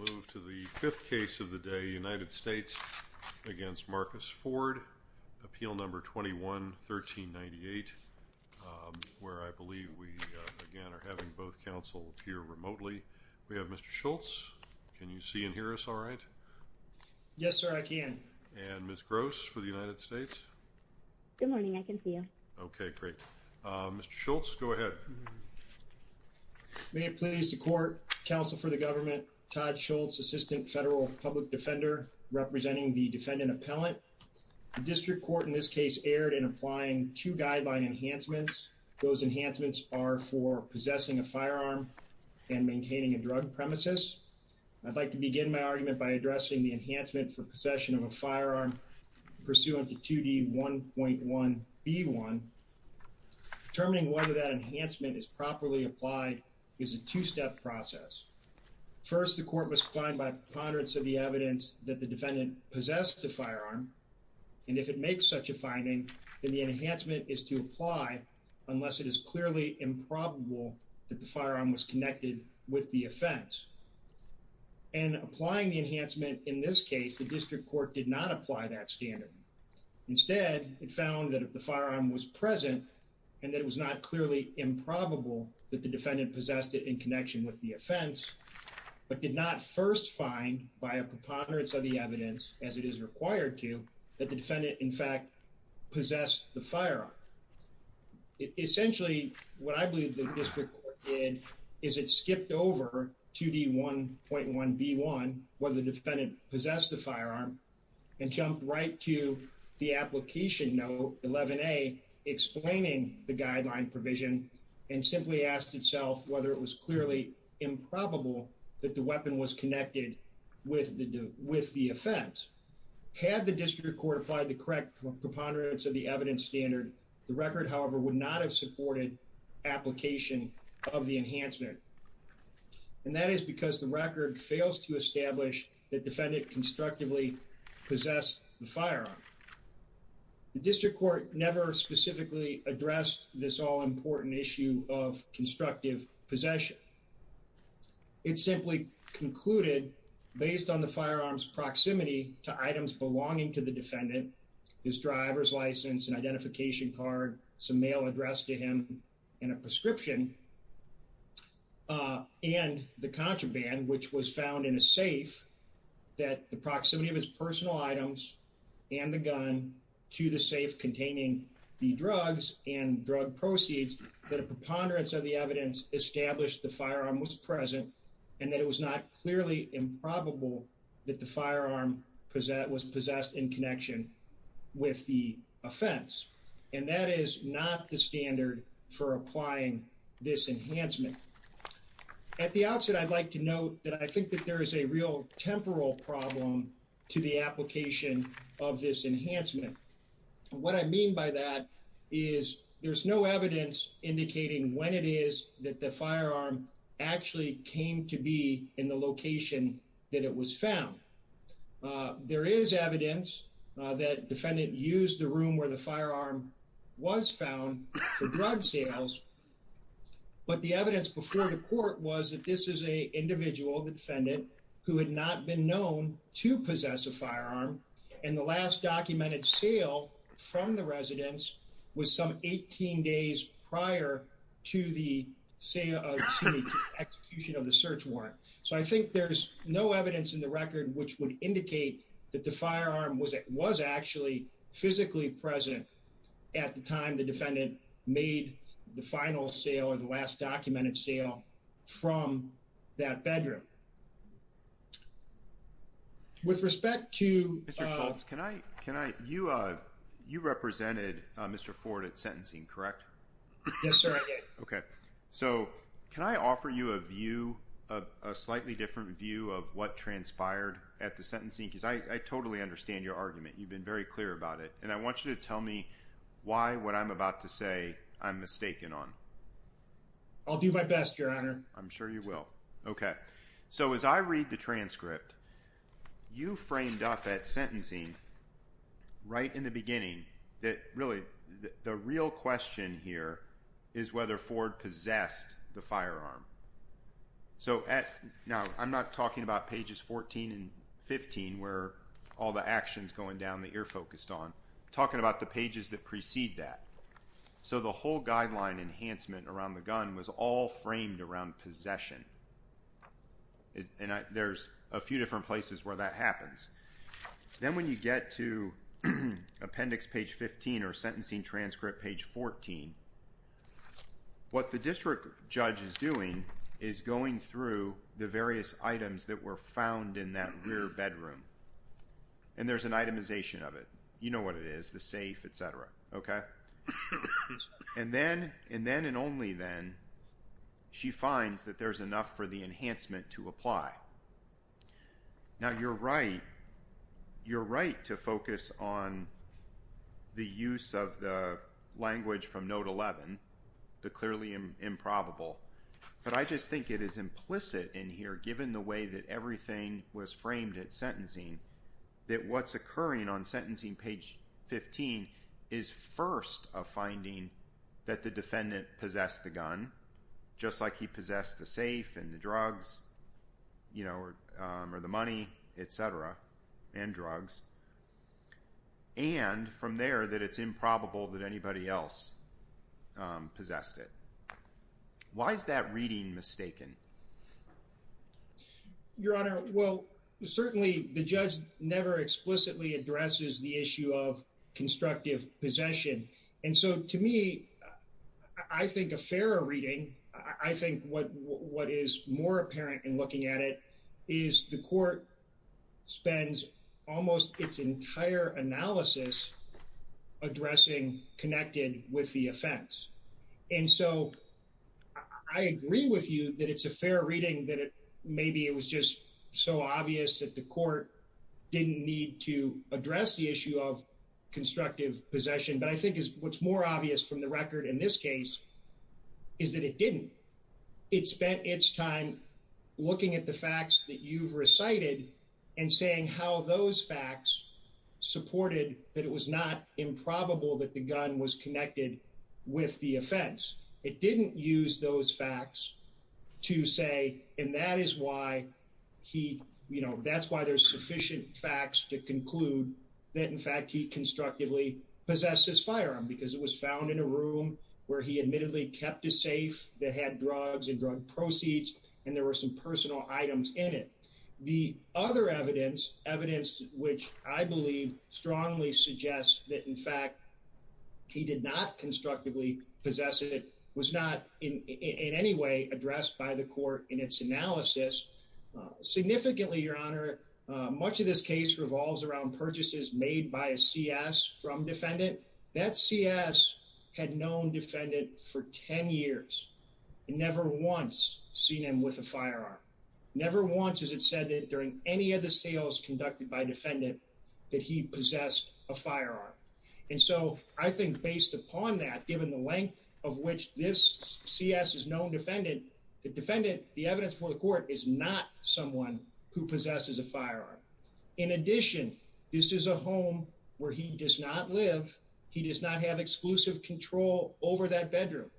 5th case United States v. Marcus Ford Appeal No. 21-1398 Mr. Schultz May it please the Court, Counsel for the Government, Todd Schultz, Assistant Federal Public Defender representing the Defendant Appellant. The District Court in this case erred in applying two guideline enhancements. Those enhancements are for possessing a firearm and maintaining a drug premises. I'd like to begin my argument by addressing the enhancement for possession of a firearm pursuant to 2D1.1b1. Determining whether that enhancement is properly applied is a two-step process. First, the Court must find by preponderance of the evidence that the Defendant possessed the firearm. And if it makes such a finding, then the enhancement is to apply unless it is clearly improbable that the firearm was connected with the offense. And applying the enhancement in this case, the District Court did not apply that standard. Instead, it found that if the firearm was present and that it was not clearly improbable that the Defendant possessed it in connection with the offense, but did not first find by a preponderance of the evidence, as it is required to, that the Defendant, in fact, possessed the firearm. Essentially, what I believe the District Court did is it skipped over 2D1.1b1, whether the Defendant possessed the firearm, and jumped right to the application note 11a, explaining the guideline provision and simply asked itself whether it was clearly improbable that the weapon was connected with the offense. Had the District Court applied the correct preponderance of the evidence standard, the record, however, would not have supported application of the enhancement. And that is because the record fails to establish that Defendant constructively possessed the firearm. The District Court never specifically addressed this all-important issue of constructive possession. It simply concluded, based on the firearm's proximity to items belonging to the Defendant, his driver's license, an identification card, some mail addressed to him, and a prescription, and the contraband, which was found in a safe, that the proximity of his personal items and the gun to the safe containing the drugs and drug proceeds, that a preponderance of the evidence established the firearm was present and that it was not clearly improbable that the firearm was possessed in connection with the offense. And that is not the standard for applying this enhancement. At the outset, I'd like to note that I think that there is a real temporal problem to the application of this enhancement. What I mean by that is there's no evidence indicating when it is that the firearm actually came to be in the location that it was found. There is evidence that Defendant used the room where the firearm was found for drug sales. But the evidence before the court was that this is an individual, the Defendant, who had not been known to possess a firearm. And the last documented sale from the residence was some 18 days prior to the execution of the search warrant. So I think there's no evidence in the record which would indicate that the firearm was actually physically present at the time the Defendant made the final sale or the last documented sale from that bedroom. With respect to... Mr. Schultz, you represented Mr. Ford at sentencing, correct? Yes, sir, I did. Okay, so can I offer you a view, a slightly different view of what transpired at the sentencing? Because I totally understand your argument. You've been very clear about it. And I want you to tell me why what I'm about to say I'm mistaken on. I'll do my best, Your Honor. I'm sure you will. Okay. So as I read the transcript, you framed up at sentencing right in the beginning that really the real question here is whether Ford possessed the firearm. So now I'm not talking about pages 14 and 15 where all the actions going down that you're focused on. Talking about the pages that precede that. So the whole guideline enhancement around the gun was all framed around possession. And there's a few different places where that happens. Then when you get to appendix page 15 or sentencing transcript page 14, what the district judge is doing is going through the various items that were found in that rear bedroom. And there's an itemization of it. You know what it is, the safe, etc. Okay. And then and only then she finds that there's enough for the enhancement to apply. Now you're right. You're right to focus on the use of the language from note 11, the clearly improbable. But I just think it is implicit in here, given the way that everything was framed at sentencing, that what's occurring on sentencing page 15 is first a finding that the defendant possessed the gun, just like he possessed the safe and the drugs, you know, or the money, etc. And drugs. And from there that it's improbable that anybody else possessed it. Why is that reading mistaken? Your Honor, well, certainly the judge never explicitly addresses the issue of constructive possession. And so to me, I think a fairer reading, I think what what is more apparent in looking at it is the court spends almost its entire analysis addressing connected with the offense. And so I agree with you that it's a fair reading that maybe it was just so obvious that the court didn't need to address the issue of constructive possession. But I think what's more obvious from the record in this case is that it didn't. It spent its time looking at the facts that you've recited and saying how those facts supported that it was not improbable that the gun was connected with the offense. It didn't use those facts to say, and that is why he you know, that's why there's sufficient facts to conclude that. In fact, he constructively possessed his firearm because it was found in a room where he admittedly kept a safe that had drugs and drug proceeds. And there were some personal items in it. The other evidence, evidence which I believe strongly suggests that, in fact, he did not constructively possess it was not in any way addressed by the court in its analysis. Significantly, Your Honor, much of this case revolves around purchases made by a C.S. from defendant that C.S. had known defendant for 10 years and never once seen him with a firearm. Never once has it said that during any of the sales conducted by defendant that he possessed a firearm. And so I think based upon that, given the length of which this C.S. is known defendant, the defendant, the evidence for the court is not someone who possesses a firearm. In addition, this is a home where he does not live. He does not have exclusive control over that bedroom.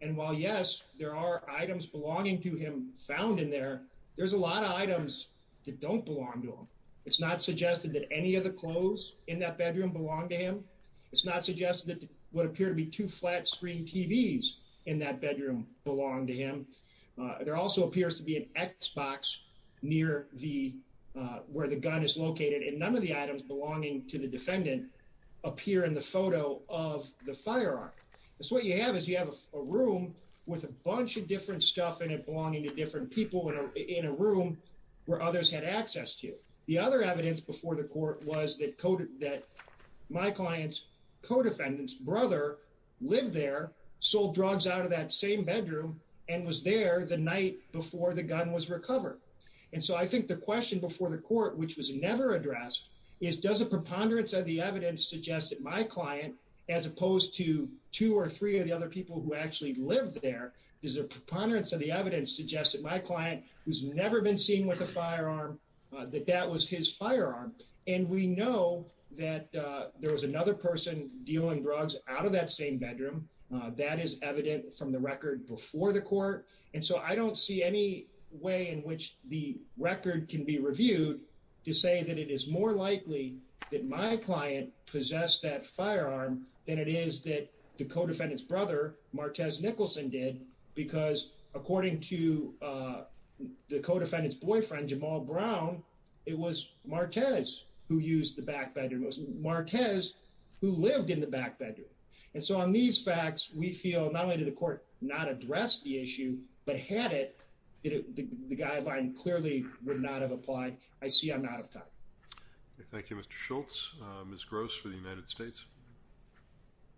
And while, yes, there are items belonging to him found in there, there's a lot of items that don't belong to him. It's not suggested that any of the clothes in that bedroom belong to him. It's not suggested that would appear to be two flat screen TVs in that bedroom belong to him. There also appears to be an Xbox near the where the gun is located. And none of the items belonging to the defendant appear in the photo of the firearm. So what you have is you have a room with a bunch of different stuff in it, belonging to different people in a room where others had access to you. The other evidence before the court was that coded that my client's co-defendants brother lived there, sold drugs out of that same bedroom and was there the night before the gun was recovered. And so I think the question before the court, which was never addressed, is does a preponderance of the evidence suggest that my client, as opposed to two or three of the other people who actually lived there, does a preponderance of the evidence suggest that my client, who's never been seen with a firearm, that that was his firearm? And we know that there was another person dealing drugs out of that same bedroom. That is evident from the record before the court. And so I don't see any way in which the record can be reviewed to say that it is more likely that my client possessed that firearm than it is that the co-defendant's brother, Martez Nicholson, did because according to the co-defendant's boyfriend, Jamal Brown, it was Martez who used the back bedroom, it was Martez who lived in the back bedroom. And so on these facts, we feel not only did the court not address the issue, but had it, the guideline clearly would not have applied. I see I'm out of time. Thank you, Mr. Schultz. Ms. Gross for the United States.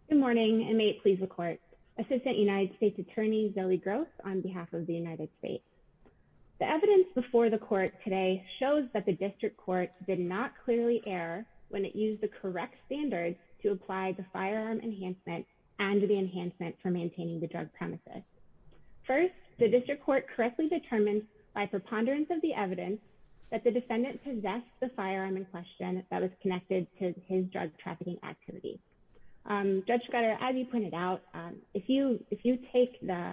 Good morning and may it please the court, Assistant United States Attorney Zoe Gross on behalf of the United States. The evidence before the court today shows that the district court did not clearly err when it used the correct standards to apply the firearm enhancement and the enhancement for maintaining the drug premises. First, the district court correctly determined by preponderance of the evidence that the defendant possessed the firearm in question that was connected to his drug trafficking activity. Judge Scudder, as you pointed out, if you if you take the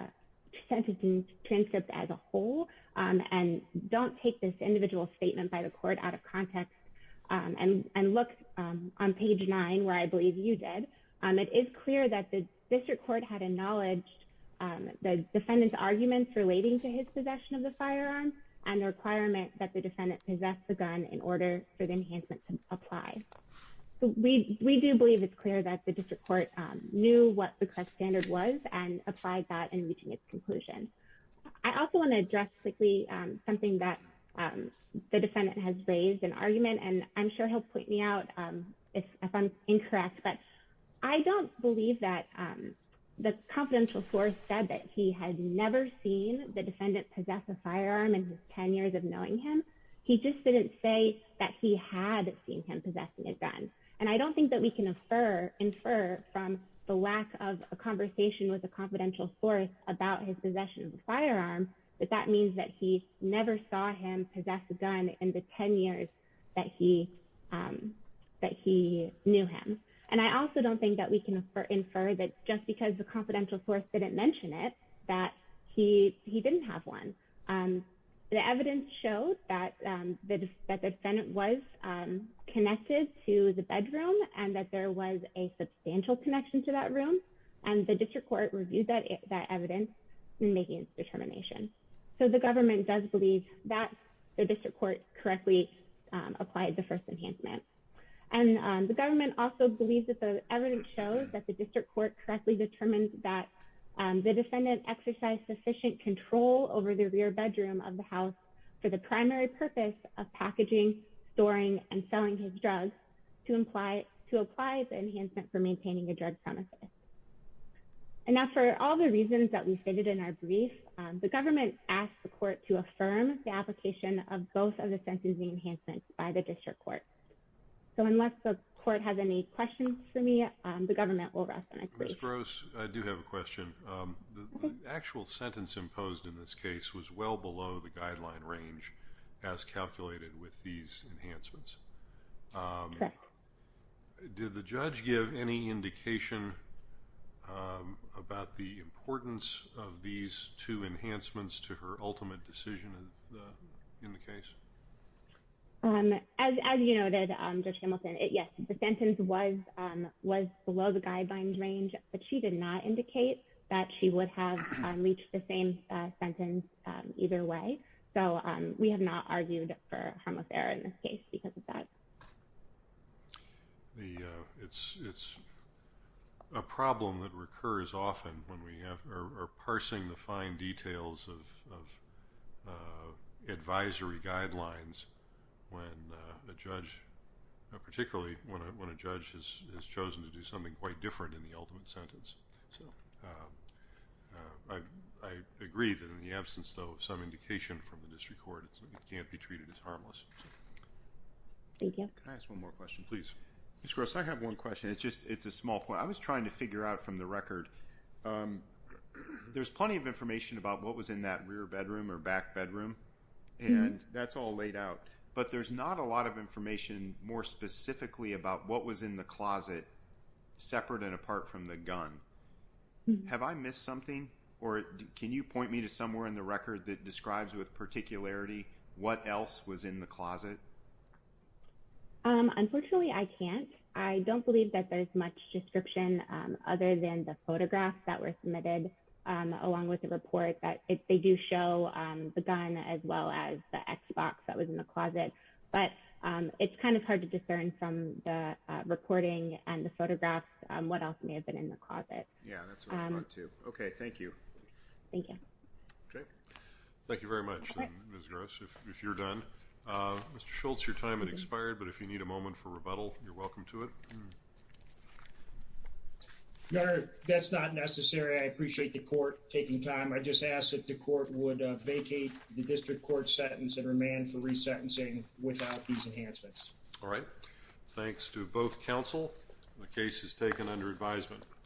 sentencing transcript as a whole and don't take this individual statement by the court out of context and look on page nine, where I believe you did. It is clear that the district court had acknowledged the defendant's arguments relating to his possession of the firearm and the requirement that the defendant possess the gun in order for the enhancement to apply. We do believe it's clear that the district court knew what the correct standard was and applied that in reaching its conclusion. I also want to address quickly something that the defendant has raised an argument, and I'm sure he'll point me out if I'm incorrect, but I don't believe that the confidential source said that he had never seen the defendant possess a firearm in his 10 years of knowing him. He just didn't say that he had seen him possessing a gun, and I don't think that we can infer from the lack of a conversation with a confidential source about his possession of a firearm that that means that he never saw him possess a gun in the 10 years that he knew him. And I also don't think that we can infer that just because the confidential source didn't mention it, that he he didn't have one. The evidence showed that the defendant was connected to the bedroom and that there was a substantial connection to that room and the district court reviewed that evidence in making its determination. So the government does believe that the district court correctly applied the first enhancement. And the government also believes that the evidence shows that the district court correctly determined that the defendant exercised sufficient control over the rear bedroom of the house for the primary purpose of packaging, storing and selling his drugs to apply to apply the enhancement for maintaining a drug premises. And now, for all the reasons that we stated in our brief, the government asked the court to affirm the application of both of the sentencing enhancements by the district court. So unless the court has any questions for me, the government will rest. Ms. Gross, I do have a question. The actual sentence imposed in this case was well below the guideline range as calculated with these enhancements. Did the judge give any indication about the importance of these two enhancements to her ultimate decision in the case? As you know, that just Hamilton, yes, the sentence was was below the guideline range, but she did not indicate that she would have reached the same sentence either way. So we have not argued for harmless error in this case because of that. The it's it's a problem that recurs often when we are parsing the fine details of advisory guidelines when a judge, particularly when a judge has chosen to do something quite different in the ultimate sentence. So I agree that in the absence, though, of some indication from the district court, it can't be treated as harmless. Thank you. Can I ask one more question, please? Ms. Gross, I have one question. It's just it's a small point I was trying to figure out from the record. There's plenty of information about what was in that rear bedroom or back bedroom, and that's all laid out. But there's not a lot of information more specifically about what was in the closet separate and apart from the gun. Have I missed something or can you point me to somewhere in the record that describes with particularity what else was in the closet? Unfortunately, I can't. I don't believe that there's much description other than the photographs that were submitted along with the report that they do show the gun as well as the Xbox that was in the closet. But it's kind of hard to discern from the recording and the photographs what else may have been in the closet. Yeah, that's what I'm going to. OK, thank you. Thank you. Thank you very much. Ms. Gross, if you're done. Mr. Schultz, your time has expired, but if you need a moment for rebuttal, you're welcome to it. No, that's not necessary. I appreciate the court taking time. I just ask that the court would vacate the district court sentence and remand for resentencing without these enhancements. All right. Thanks to both counsel. The case is taken under advisement.